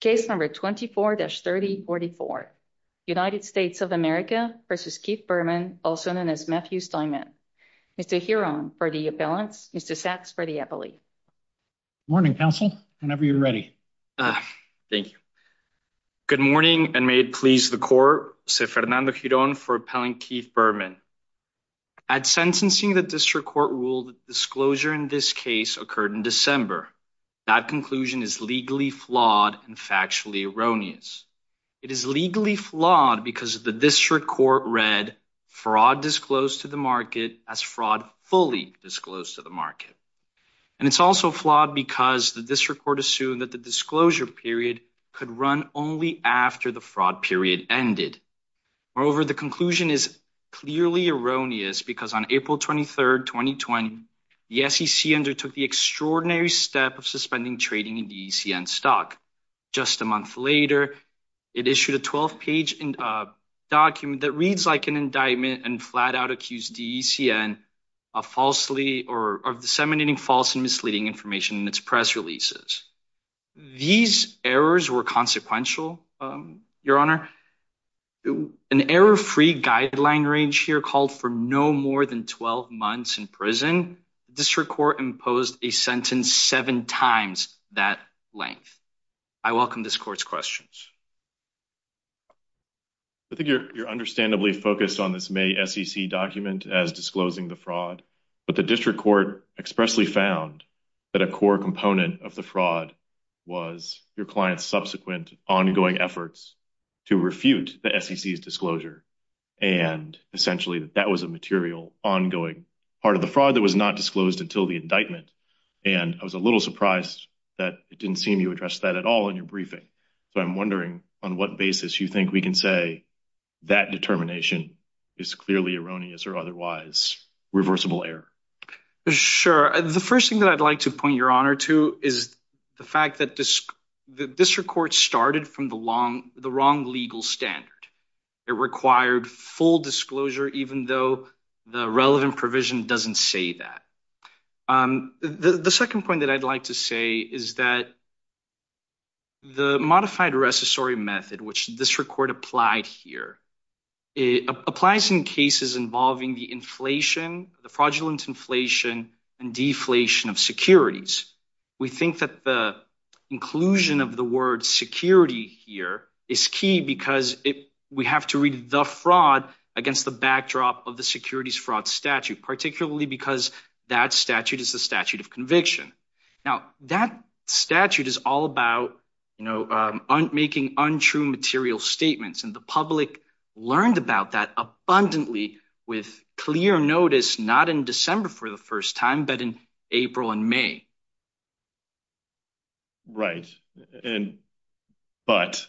Case number 24-3044. United States of America v. Keith Berman, also known as Matthew Steinman. Mr. Giron for the appellants. Mr. Sachs for the appellee. Morning, counsel, whenever you're ready. Thank you. Good morning, and may it please the court, se Fernando Giron for appellant Keith Berman. At sentencing, the district court ruled that disclosure in this case occurred in December. That conclusion is legally flawed and factually erroneous. It is legally flawed because the district court read fraud disclosed to the market as fraud fully disclosed to the market. And it's also flawed because the district court assumed that the disclosure period could run only after the fraud period ended. Moreover, the conclusion is clearly erroneous because on April 23, 2020, the SEC undertook the extraordinary step of suspending trading in DECN stock. Just a month later, it issued a 12 page document that reads like an indictment and flat out accused DECN of disseminating false and misleading information in its press releases. These errors were consequential, Your Honor. An error-free guideline range here called for no more than 12 months in prison. The district court imposed a sentence seven times that length. I welcome this court's questions. I think you're understandably focused on this May SEC document as disclosing the fraud, but the district court expressly found that a core component of the fraud was your client's subsequent ongoing efforts to refute the SEC's disclosure. And essentially, that was a material ongoing part of the fraud that was not disclosed until the indictment. And I was a little surprised that it didn't seem you addressed that at all in your briefing. So I'm wondering on what basis you think we can say that determination is clearly erroneous or otherwise reversible error. Sure. The first thing that I'd like to point your honor to is the fact that the district court started from the wrong legal standard. It required full disclosure, even though the relevant provision doesn't say that. The second point that I'd like to say is that the modified recessory method, which this record applied here, it applies in cases involving the inflation, the fraudulent inflation and deflation of securities. We think that the inclusion of the word security here is key because we have to read the fraud against the backdrop of the securities fraud statute, particularly because that statute is the statute of conviction. Now that statute is all about, you know, making untrue material statements. And the public learned about that abundantly with clear notice, not in December for the first time, but in April and May. Right. And but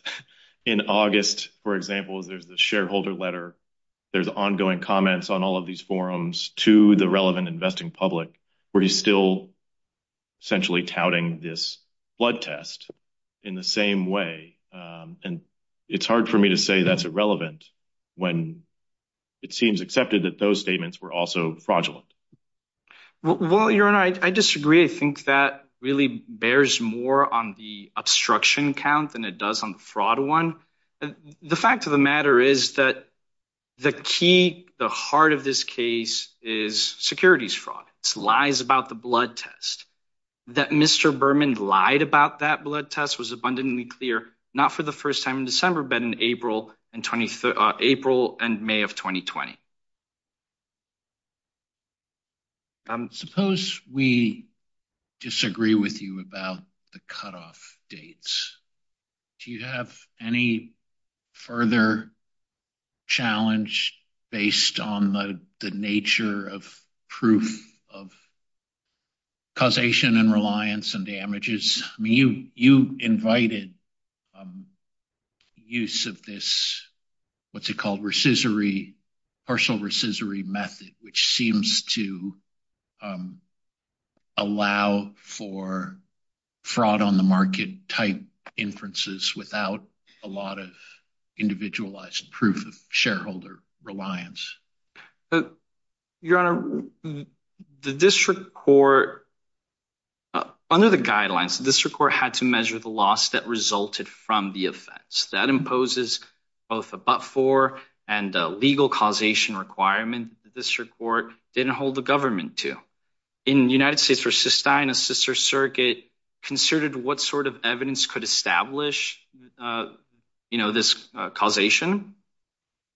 in August, for example, there's the shareholder letter. There's ongoing comments on all of these forums to the relevant investing public where he's still essentially touting this blood test in the same way. And it's hard for me to say that's irrelevant when it seems accepted that those statements were also fraudulent. Well, your honor, I disagree. I think that really bears more on the obstruction count than it does on the fraud one. The fact of the matter is that the key, the heart of this case is securities fraud lies about the lied about that blood test was abundantly clear, not for the first time in December, but in April and April and May of 2020. Suppose we disagree with you about the cutoff dates. Do you have any further challenge based on the nature of proof of causation and reliance and damages? You invited use of this. What's it called? Recessory partial recessory method, which seems to um, allow for fraud on the market type inferences without a lot of individualized proof of shareholder reliance. Your honor, the district court under the guidelines, the district court had to measure the loss that resulted from the offense that imposes both above four and legal causation requirement. The district court didn't hold the government to in the United States versus Stein, a sister circuit considered what sort of evidence could establish, uh, you know, this causation.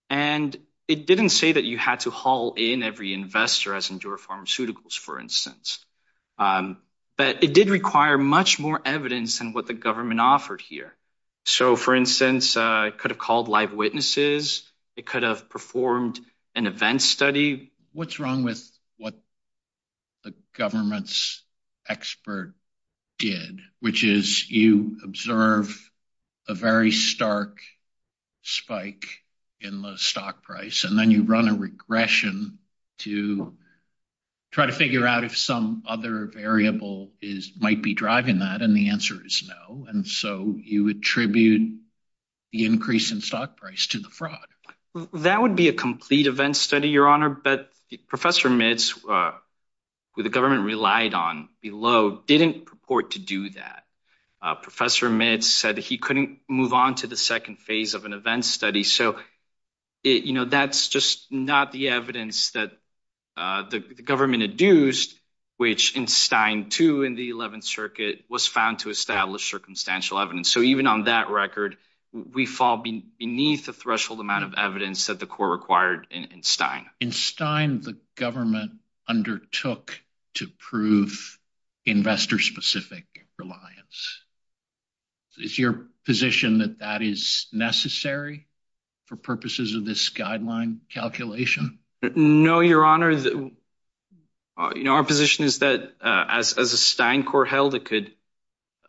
And it didn't say that you had to haul in every investor as endure pharmaceuticals, for instance. Um, but it did require much more evidence than what the called live witnesses. It could have performed an event study. What's wrong with what the government's expert did, which is you observe a very stark spike in the stock price, and then you run a regression to try to figure out if some other variable is might be driving that. And the answer is no. And so you attribute the increase in stock price to the fraud. That would be a complete event study, your honor. But Professor Mitz, who the government relied on below, didn't purport to do that. Uh, Professor Mitz said that he couldn't move on to the second phase of an event study. So it, you know, that's just not the evidence that, uh, the government had used, which in Stein, too, in the 11th Circuit was found to establish circumstantial evidence. So even on that record, we fall beneath the threshold amount of evidence that the court required in Stein. In Stein, the government undertook to prove investor specific reliance. Is your position that that is necessary for purposes of this guideline calculation? No, your honor. You know, our position is that, uh, as, as a Stein court held, it could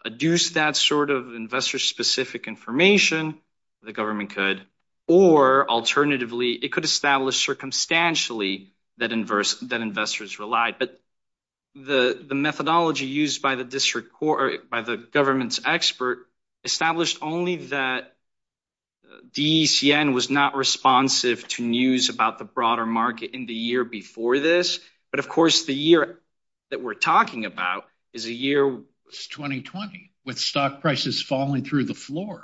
adduce that sort of investor specific information the government could, or alternatively, it could establish circumstantially that inverse that investors relied. But the methodology used by the district court by the government's expert established only that DECN was not responsive to news about the broader market in the year before this. But of course, the year that we're talking about is a year 2020 with stock prices falling through the floor.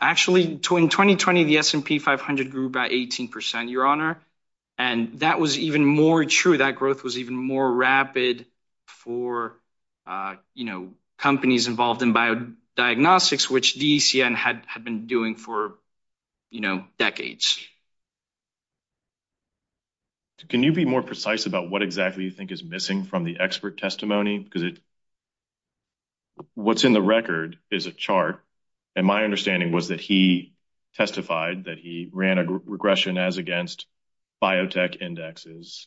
Actually, in 2020, the S&P 500 grew by 18%, your honor. And that was even more true. That growth was even more rapid for, uh, you know, companies involved in biodiagnostics, which DECN had been doing for, you know, decades. Can you be more precise about what exactly you think is missing from the expert testimony? Because it, what's in the record is a chart. And my understanding was that he testified that he ran a regression as against biotech indexes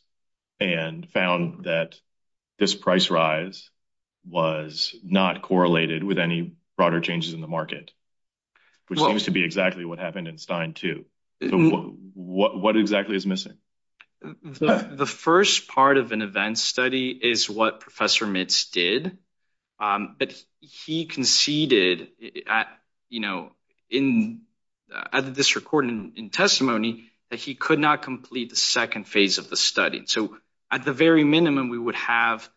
and found that this price rise was not correlated with any broader changes in the market, which seems to be exactly what happened in Stein too. So what exactly is missing? The first part of an event study is what Professor Mitz did. But he conceded at, you know, in, at this recording in testimony that he could not complete the second phase of the study. So at the very minimum, we would have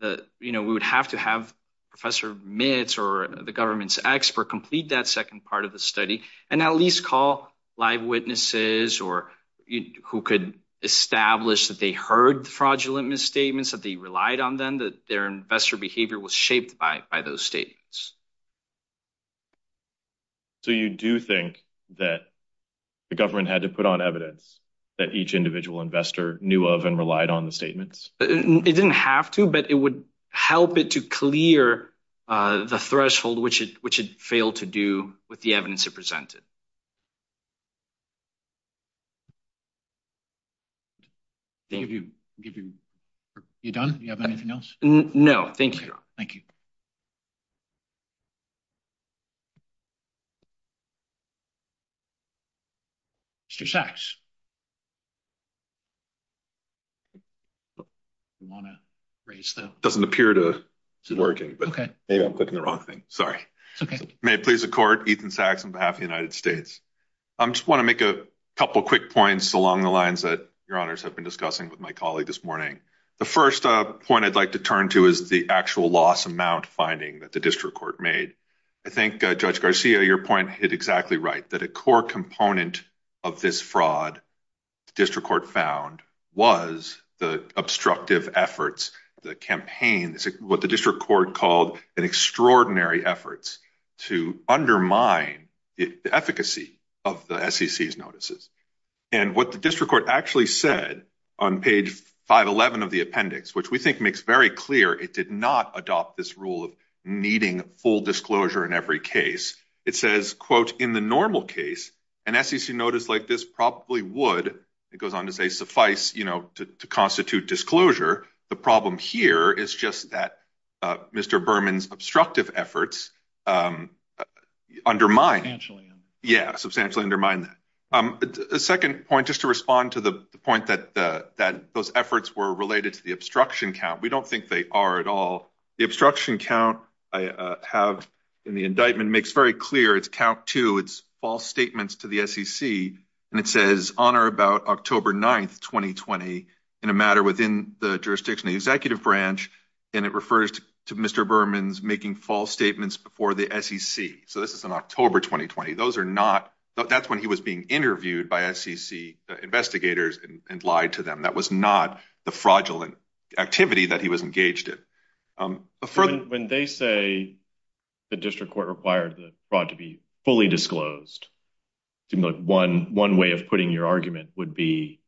the, you know, we would have to have Professor Mitz or the government's expert complete that second part of the study and at least call live witnesses or who could establish that they heard fraudulent misstatements, that they relied on them, that their investor behavior was shaped by those statements. So you do think that the government had to put on evidence that each individual investor knew of and relied on the statements? It didn't have to, but it would help it to clear the threshold, which it, which it failed to do with the evidence it presented. Thank you. You done? You have anything else? No, thank you. Thank you. Mr. Sachs. You want to raise that? Doesn't appear to be working, but maybe I'm clicking the wrong thing. Sorry. May it please the court, Ethan Sachs on behalf of the United States. I just want to make a couple of quick points along the lines that your honors have been discussing with my colleague this morning. The first point I'd like to turn to is the actual loss amount finding that the district court made. I think Judge Garcia, your point hit exactly right. That a core component of this fraud the district court found was the obstructive efforts, the campaign, what the district court called an extraordinary efforts to undermine the efficacy of the SEC's notices. And what the district court actually said on page 511 of the appendix, which we think makes very clear, it did not adopt this rule of needing full disclosure in every case. It says, quote, in the normal case, an SEC notice like this probably would, it goes on to say, suffice, you know, to constitute disclosure. The problem here is just that Mr. Berman's obstructive efforts undermine. Yeah, substantially undermine that. A second point, just to respond to the point that those efforts were related to the obstruction count. We don't think they are at all. The obstruction count I have in the indictment makes very clear it's count two, it's false statements to the SEC. And it says on or about October 9th, 2020 in a matter within the jurisdiction of the executive branch. And it refers to Mr. Berman's making false statements before the SEC. So this is an October 2020. Those are not, that's when he was being interviewed by SEC investigators and lied to them. That was not the fraudulent activity that he was engaged in. When they say the district court required the fraud to be fully disclosed, one way of putting your argument would be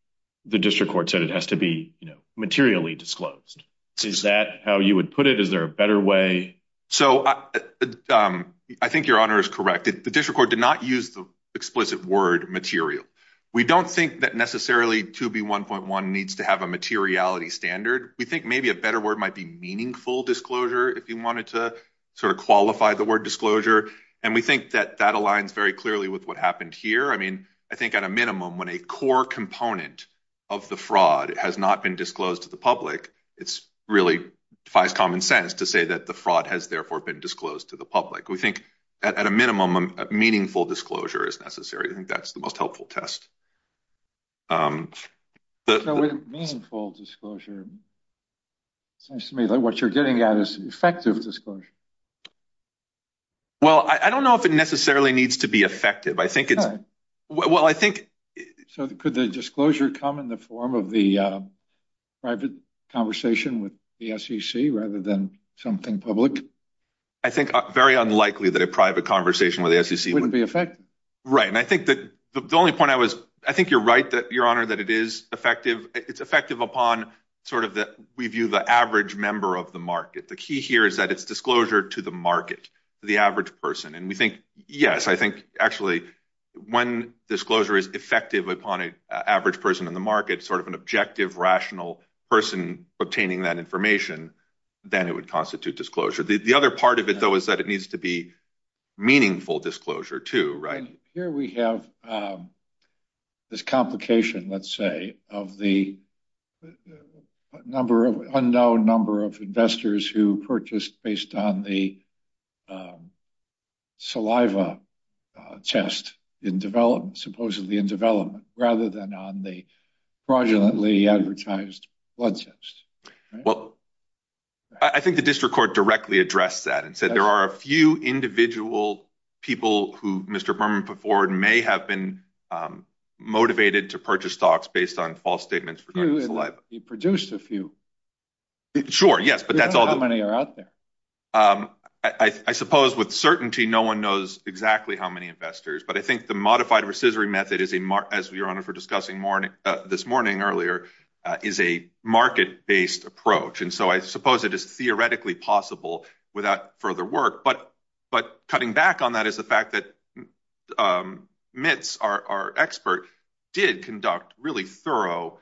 the district court said it has to be, you know, materially disclosed. Is that how you would put it? Is there a better way? So I think your honor is correct. The district court did not use the explicit word material. We don't think that necessarily 2B1.1 needs to have a materiality standard. We think maybe a better word might be meaningful disclosure if you wanted to sort of qualify the word disclosure. And we think that that aligns very clearly with what happened here. I mean, I think at a minimum, when a core component of the fraud has not been disclosed to the public, it's really defies common sense to say that the fraud has therefore been disclosed to the public. We think at a minimum, that's a good test. So with meaningful disclosure, it seems to me that what you're getting at is effective disclosure. Well, I don't know if it necessarily needs to be effective. I think it's... Well, I think... So could the disclosure come in the form of the private conversation with the SEC rather than something public? I think very unlikely that a private conversation with the SEC... Right. And I think that the only point I was... I think you're right, Your Honor, that it is effective. It's effective upon sort of that we view the average member of the market. The key here is that it's disclosure to the market, the average person. And we think, yes, I think actually when disclosure is effective upon an average person in the market, sort of an objective, rational person obtaining that information, then it would constitute disclosure. The other part of it, though, is that it needs to be meaningful disclosure too, right? Here we have this complication, let's say, of the unknown number of investors who purchased based on the saliva test supposedly in development rather than on the fraudulently advertised blood test. Well, I think the district court directly addressed that and said there are a few individual people who Mr. Berman put forward may have been motivated to purchase stocks based on false statements regarding saliva. He produced a few. Sure, yes, but that's all... How many are out there? I suppose with certainty no one knows exactly how many investors, but I think the modified based approach, and so I suppose it is theoretically possible without further work. But cutting back on that is the fact that Mitz, our expert, did conduct really thorough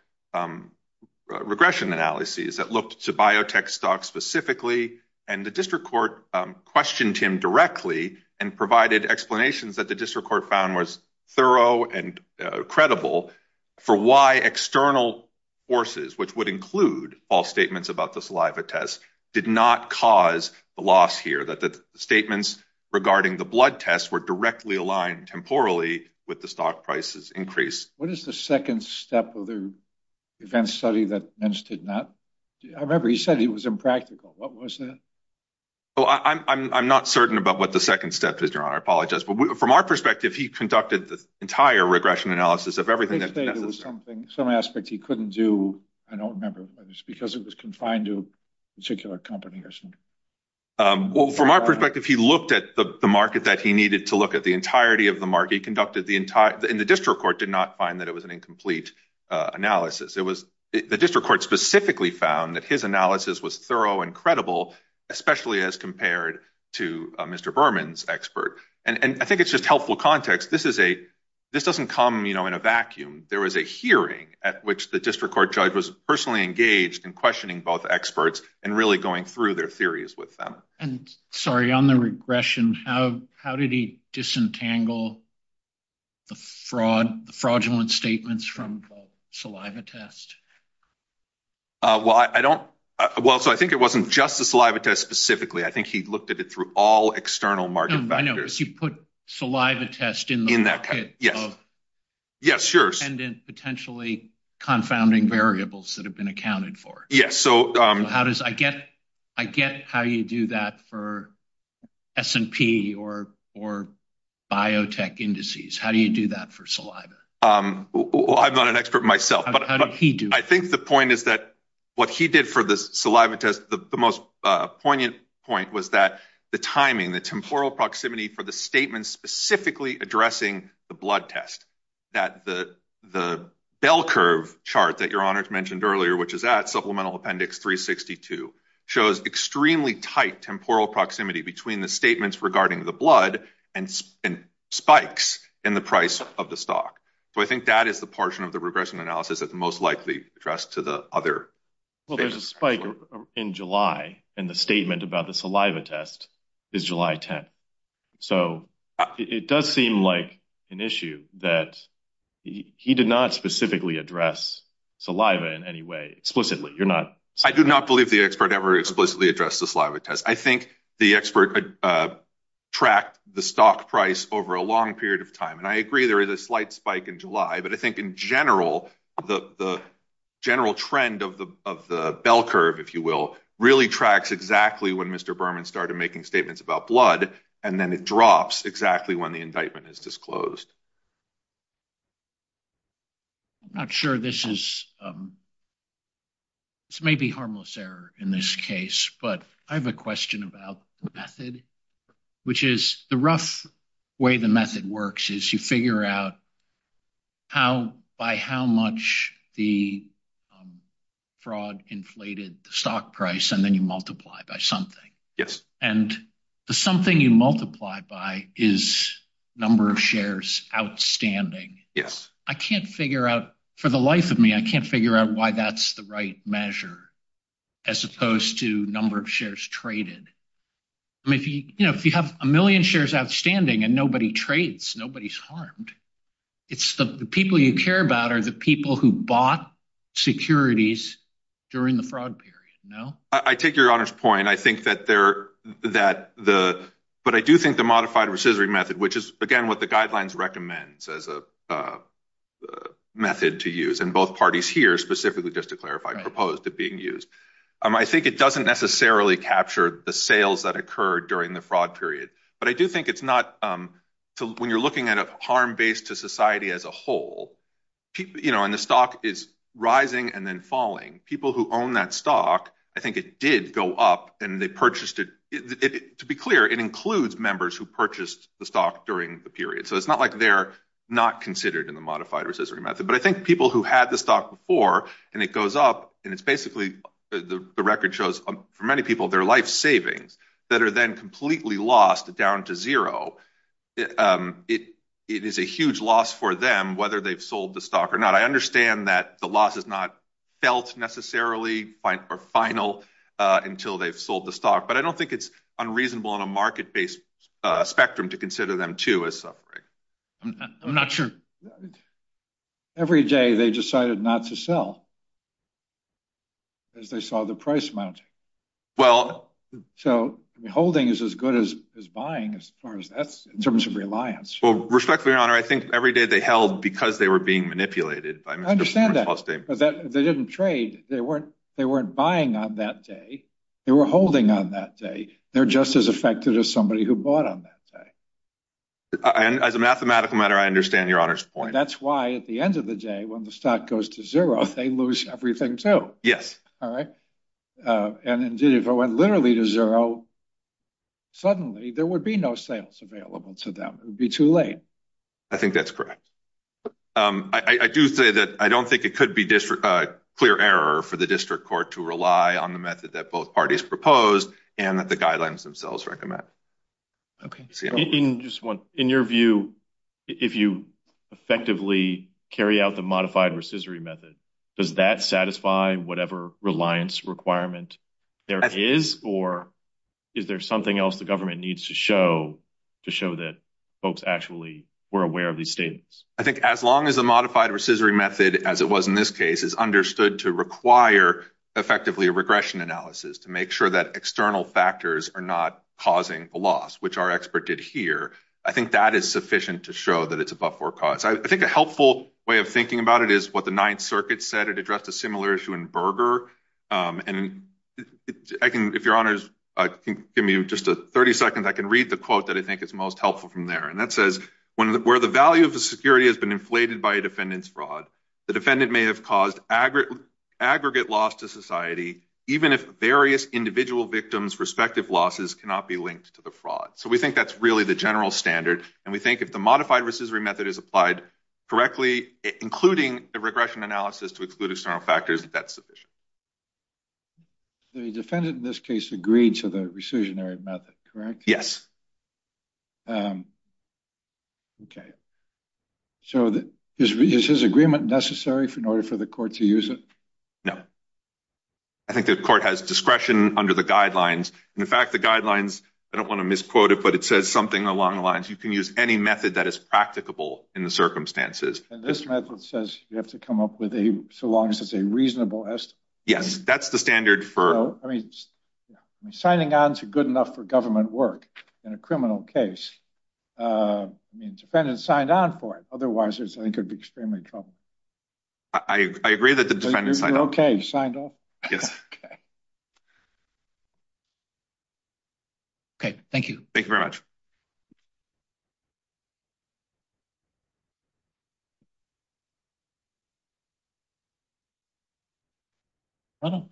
regression analyses that looked to biotech stocks specifically, and the district court questioned him directly and provided explanations that the district court found was thorough and credible for why external forces, which would include false statements about the saliva test, did not cause the loss here, that the statements regarding the blood test were directly aligned temporally with the stock price's increase. What is the second step of the event study that Mitz did not... I remember he said it was impractical. What was that? I'm not certain about what the second step was, Your Honor. I apologize. But from our perspective, he conducted the entire regression analysis of everything that was necessary. He did say there was something, some aspect he couldn't do. I don't remember, but it's because it was confined to a particular company or something. Well, from our perspective, he looked at the market that he needed to look at, the entirety of the market. He conducted the entire... And the district court did not find that it was an incomplete analysis. The district court specifically found that his analysis was thorough and credible, especially as compared to Mr. Berman's expert. And I think it's just helpful context. This doesn't come in a vacuum. There was a hearing at which the district court judge was personally engaged in questioning both experts and really going through their theories with them. And sorry, on the regression, how did he disentangle the fraudulent statements from saliva test? Well, I don't... Well, so I think it wasn't just a saliva test specifically. I think he looked at it through all external market factors. No, I know, but you put saliva test in the pocket of... In that case, yes. Yes, sure. ...potentially confounding variables that have been accounted for. Yes, so... So how does... I get how you do that for S&P or biotech indices. How do you do that for Well, I'm not an expert myself, but... I think the point is that what he did for the saliva test, the most poignant point was that the timing, the temporal proximity for the statements specifically addressing the blood test, that the bell curve chart that Your Honor mentioned earlier, which is at Supplemental Appendix 362, shows extremely tight temporal proximity between the statements regarding the blood and spikes in the price of the stock. So I think that is the portion of the regression analysis that's most likely addressed to the other... Well, there's a spike in July, and the statement about the saliva test is July 10th. So it does seem like an issue that he did not specifically address saliva in any way explicitly. You're not... I do not believe the expert ever explicitly addressed the saliva test. I think the expert tracked the stock price over a long period of time. And I agree there is a slight spike in July, but I think in general, the general trend of the bell curve, if you will, really tracks exactly when Mr. Berman started making statements about blood, and then it drops exactly when the indictment is disclosed. I'm not sure this is... This may be harmless error in this case, but I have a question about the method, which is the rough way the method works is you figure out by how much the fraud inflated the stock price, and then you multiply by something. And the something you multiply by is number of shares outstanding. Yes. I can't figure out, for the life of me, I can't figure out why that's the right measure, as opposed to number of shares traded. I mean, if you have a million shares outstanding and nobody trades, nobody's harmed. It's the people you care about are the people who bought securities during the fraud period. No? I take your honor's point. I think that they're... But I do think the modified rescissory method, which is, again, what the guidelines recommends as a method to use, and both parties here specifically, just to clarify, proposed it being used. I think it doesn't necessarily capture the sales that occurred during the fraud period. But I do think it's not... When you're looking at a harm base to society as a whole, and the stock is rising and then falling, people who own that stock, I think it did go up and they purchased it. To be clear, it includes members who purchased the stock during the period. It's not like they're not considered in the modified rescissory method. But I think people who had the stock before, and it goes up, and it's basically... The record shows, for many people, their life savings that are then completely lost down to zero. It is a huge loss for them, whether they've sold the stock or not. I understand that the loss is not felt necessarily, or final, until they've sold the stock. But I don't think it's unreasonable on a market-based spectrum to consider them too as suffering. I'm not sure. Every day, they decided not to sell, as they saw the price mounting. So holding is as good as buying, as far as that's... In terms of reliance. Well, respectfully, Your Honor, I think every day they held because they were being manipulated. I understand that, but they didn't trade. They weren't buying on that day. They were holding on that day. They're just as affected as somebody who bought on that day. And as a mathematical matter, I understand Your Honor's point. That's why, at the end of the day, when the stock goes to zero, they lose everything too. Yes. All right? And indeed, if it went literally to zero, suddenly, there would be no sales available to them. It would be too late. I think that's correct. I do say that I don't think it could be a clear error for the district court to rely on the method that both parties proposed and that the guidelines themselves recommend. Okay. In your view, if you effectively carry out the modified rescissory method, does that satisfy whatever reliance requirement there is? Or is there something else the government needs to show to show that folks actually were aware of these statements? I think as long as the modified rescissory method, as it was in this case, is understood to require effectively a regression analysis to make sure that external factors are not causing the loss, which our expert did here, I think that is sufficient to show that it's above forecast. I think a helpful way of thinking about it is what the Ninth Circuit said. It addressed a similar issue in Berger. And if Your Honor can give me just 30 seconds, I can read the quote that I think is most helpful from there. And that says, where the value of the security has been inflated by a defendant's fraud, the defendant may have caused aggregate loss to society even if various individual victims' respective losses cannot be linked to the fraud. So we think that's really the general standard. And we think if the modified rescissory method is applied correctly, including a regression analysis to exclude external factors, that's sufficient. The defendant in this case agreed to the rescissionary method, correct? Yes. OK. So is his agreement necessary in order for the court to use it? No. I think the court has discretion under the guidelines. And in fact, the guidelines, I don't want to misquote it, but it says something along the lines, you can use any method that is practicable in the circumstances. And this method says you have to come up with a, so long as it's a reasonable estimate? Yes. That's the standard for... So, I mean, signing on is good enough for government work in a criminal case. I mean, the defendant signed on for it. Otherwise, I think it would be extremely troubling. I agree that the defendant signed on. OK, he signed on. Yes. OK, thank you. Thank you very much. Ronald?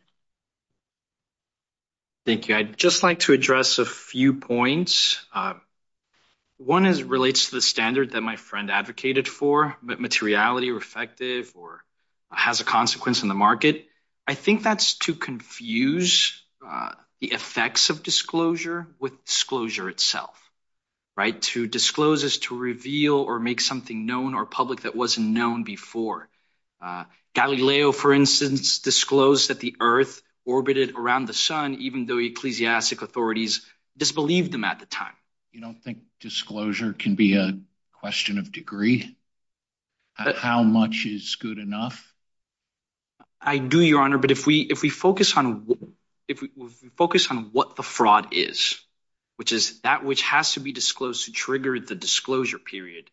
Thank you. I'd just like to address a few points. One relates to the standard that my friend advocated for. Materiality or effective or has a consequence in the market. I think that's to confuse the effects of disclosure with disclosure itself, right? To disclose is to reveal or make something known or public that wasn't known before. Galileo, for instance, disclosed that the earth orbited around the sun, even though ecclesiastic authorities disbelieved them at the time. You don't think disclosure can be a question of degree? How much is good enough? I do, Your Honor, but if we focus on what the fraud is, which is that which has to be disclosed to trigger the disclosure period.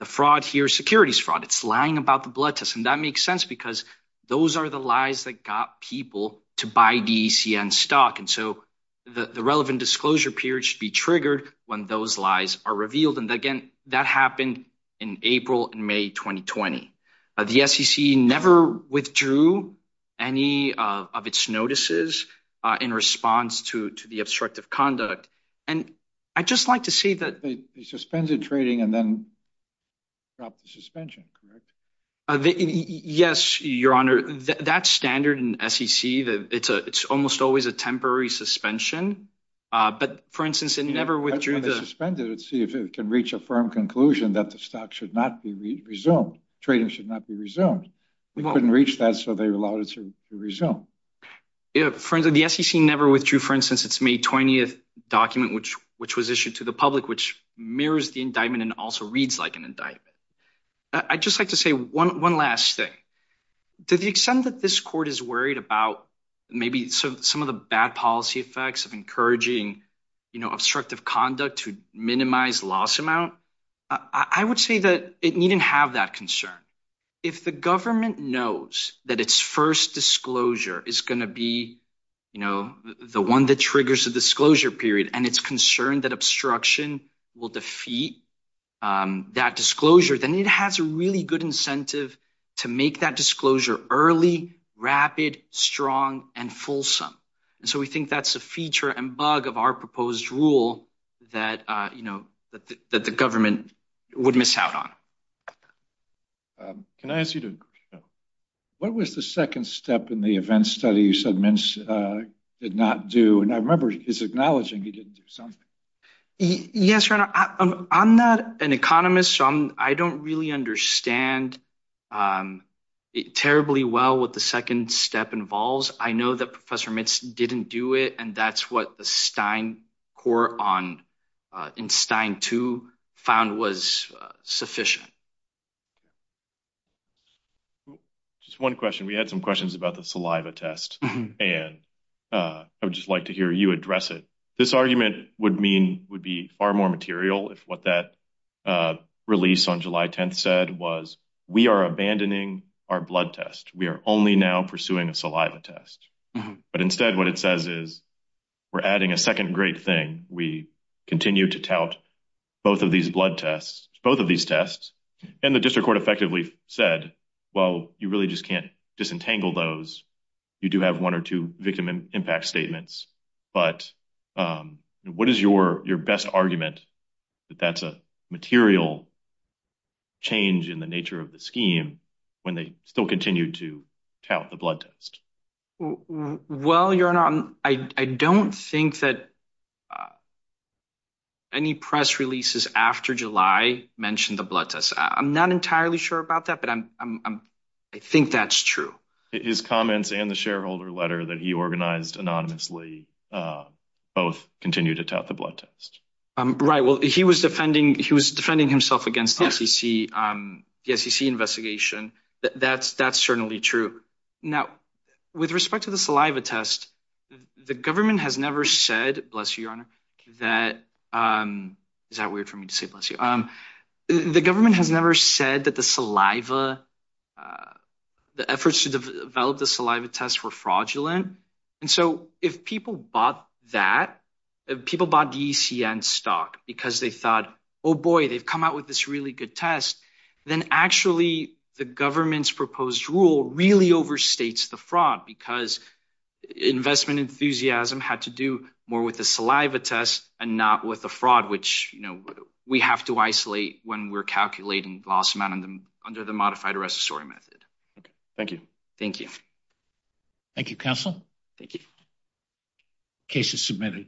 The fraud here is securities fraud. It's lying about the blood test. And that makes sense because those are the lies that got people to buy DECN stock. And so the relevant disclosure period should be triggered when those lies are revealed. That happened in April and May 2020. The SEC never withdrew any of its notices in response to the obstructive conduct. And I'd just like to say that. They suspended trading and then dropped the suspension, correct? Yes, Your Honor, that's standard in SEC. It's almost always a temporary suspension. But, for instance, it never withdrew. They suspended it to see if it can reach a firm conclusion that the stock should not be resumed. Trading should not be resumed. We couldn't reach that, so they allowed it to resume. Yeah, friends, the SEC never withdrew, for instance, its May 20th document, which was issued to the public, which mirrors the indictment and also reads like an indictment. I'd just like to say one last thing. To the extent that this court is worried about maybe some of the bad policy effects of encouraging obstructive conduct to minimize loss amount, I would say that it needn't have that concern. If the government knows that its first disclosure is going to be the one that triggers the disclosure period and it's concerned that obstruction will defeat that disclosure, then it has a really good incentive to make that disclosure early, rapid, strong, and fulsome. We think that's a feature and bug of our proposed rule that the government would miss out on. Can I ask you to... What was the second step in the event study you said Mintz did not do? I remember he's acknowledging he didn't do something. Yes, Your Honor, I'm not an economist, so I don't really understand terribly well what the second step involves. I know that Professor Mintz didn't do it, and that's what the Stein court in Stein 2 found was sufficient. Just one question. We had some questions about the saliva test, and I would just like to hear you address it. This argument would be far more material if what that release on July 10th said was, we are abandoning our blood test. We are only now pursuing a saliva test. But instead, what it says is, we're adding a second great thing. We continue to tout both of these blood tests, both of these tests. And the district court effectively said, well, you really just can't disentangle those. You do have one or two victim impact statements. But what is your best argument that that's a material change in the nature of the scheme when they still continue to tout the blood test? Well, Your Honor, I don't think that any press releases after July mentioned the blood test. I'm not entirely sure about that, but I think that's true. His comments and the shareholder letter that he organized anonymously both continue to tout the blood test. Right. Well, he was defending himself against the SEC investigation. That's certainly true. Now, with respect to the saliva test, the government has never said, bless you, Your Honor, that—is that weird for me to say bless you? The government has never said that the saliva, the efforts to develop the saliva test were fraudulent. And so if people bought that, if people bought the ECN stock because they thought, oh, boy, they've come out with this really good test, then actually the government's proposed rule really overstates the fraud because investment enthusiasm had to do more with the saliva test and not with the fraud, which we have to isolate when we're calculating loss amount under the modified arrest story method. Okay. Thank you. Thank you. Thank you, counsel. Thank you. Case is submitted.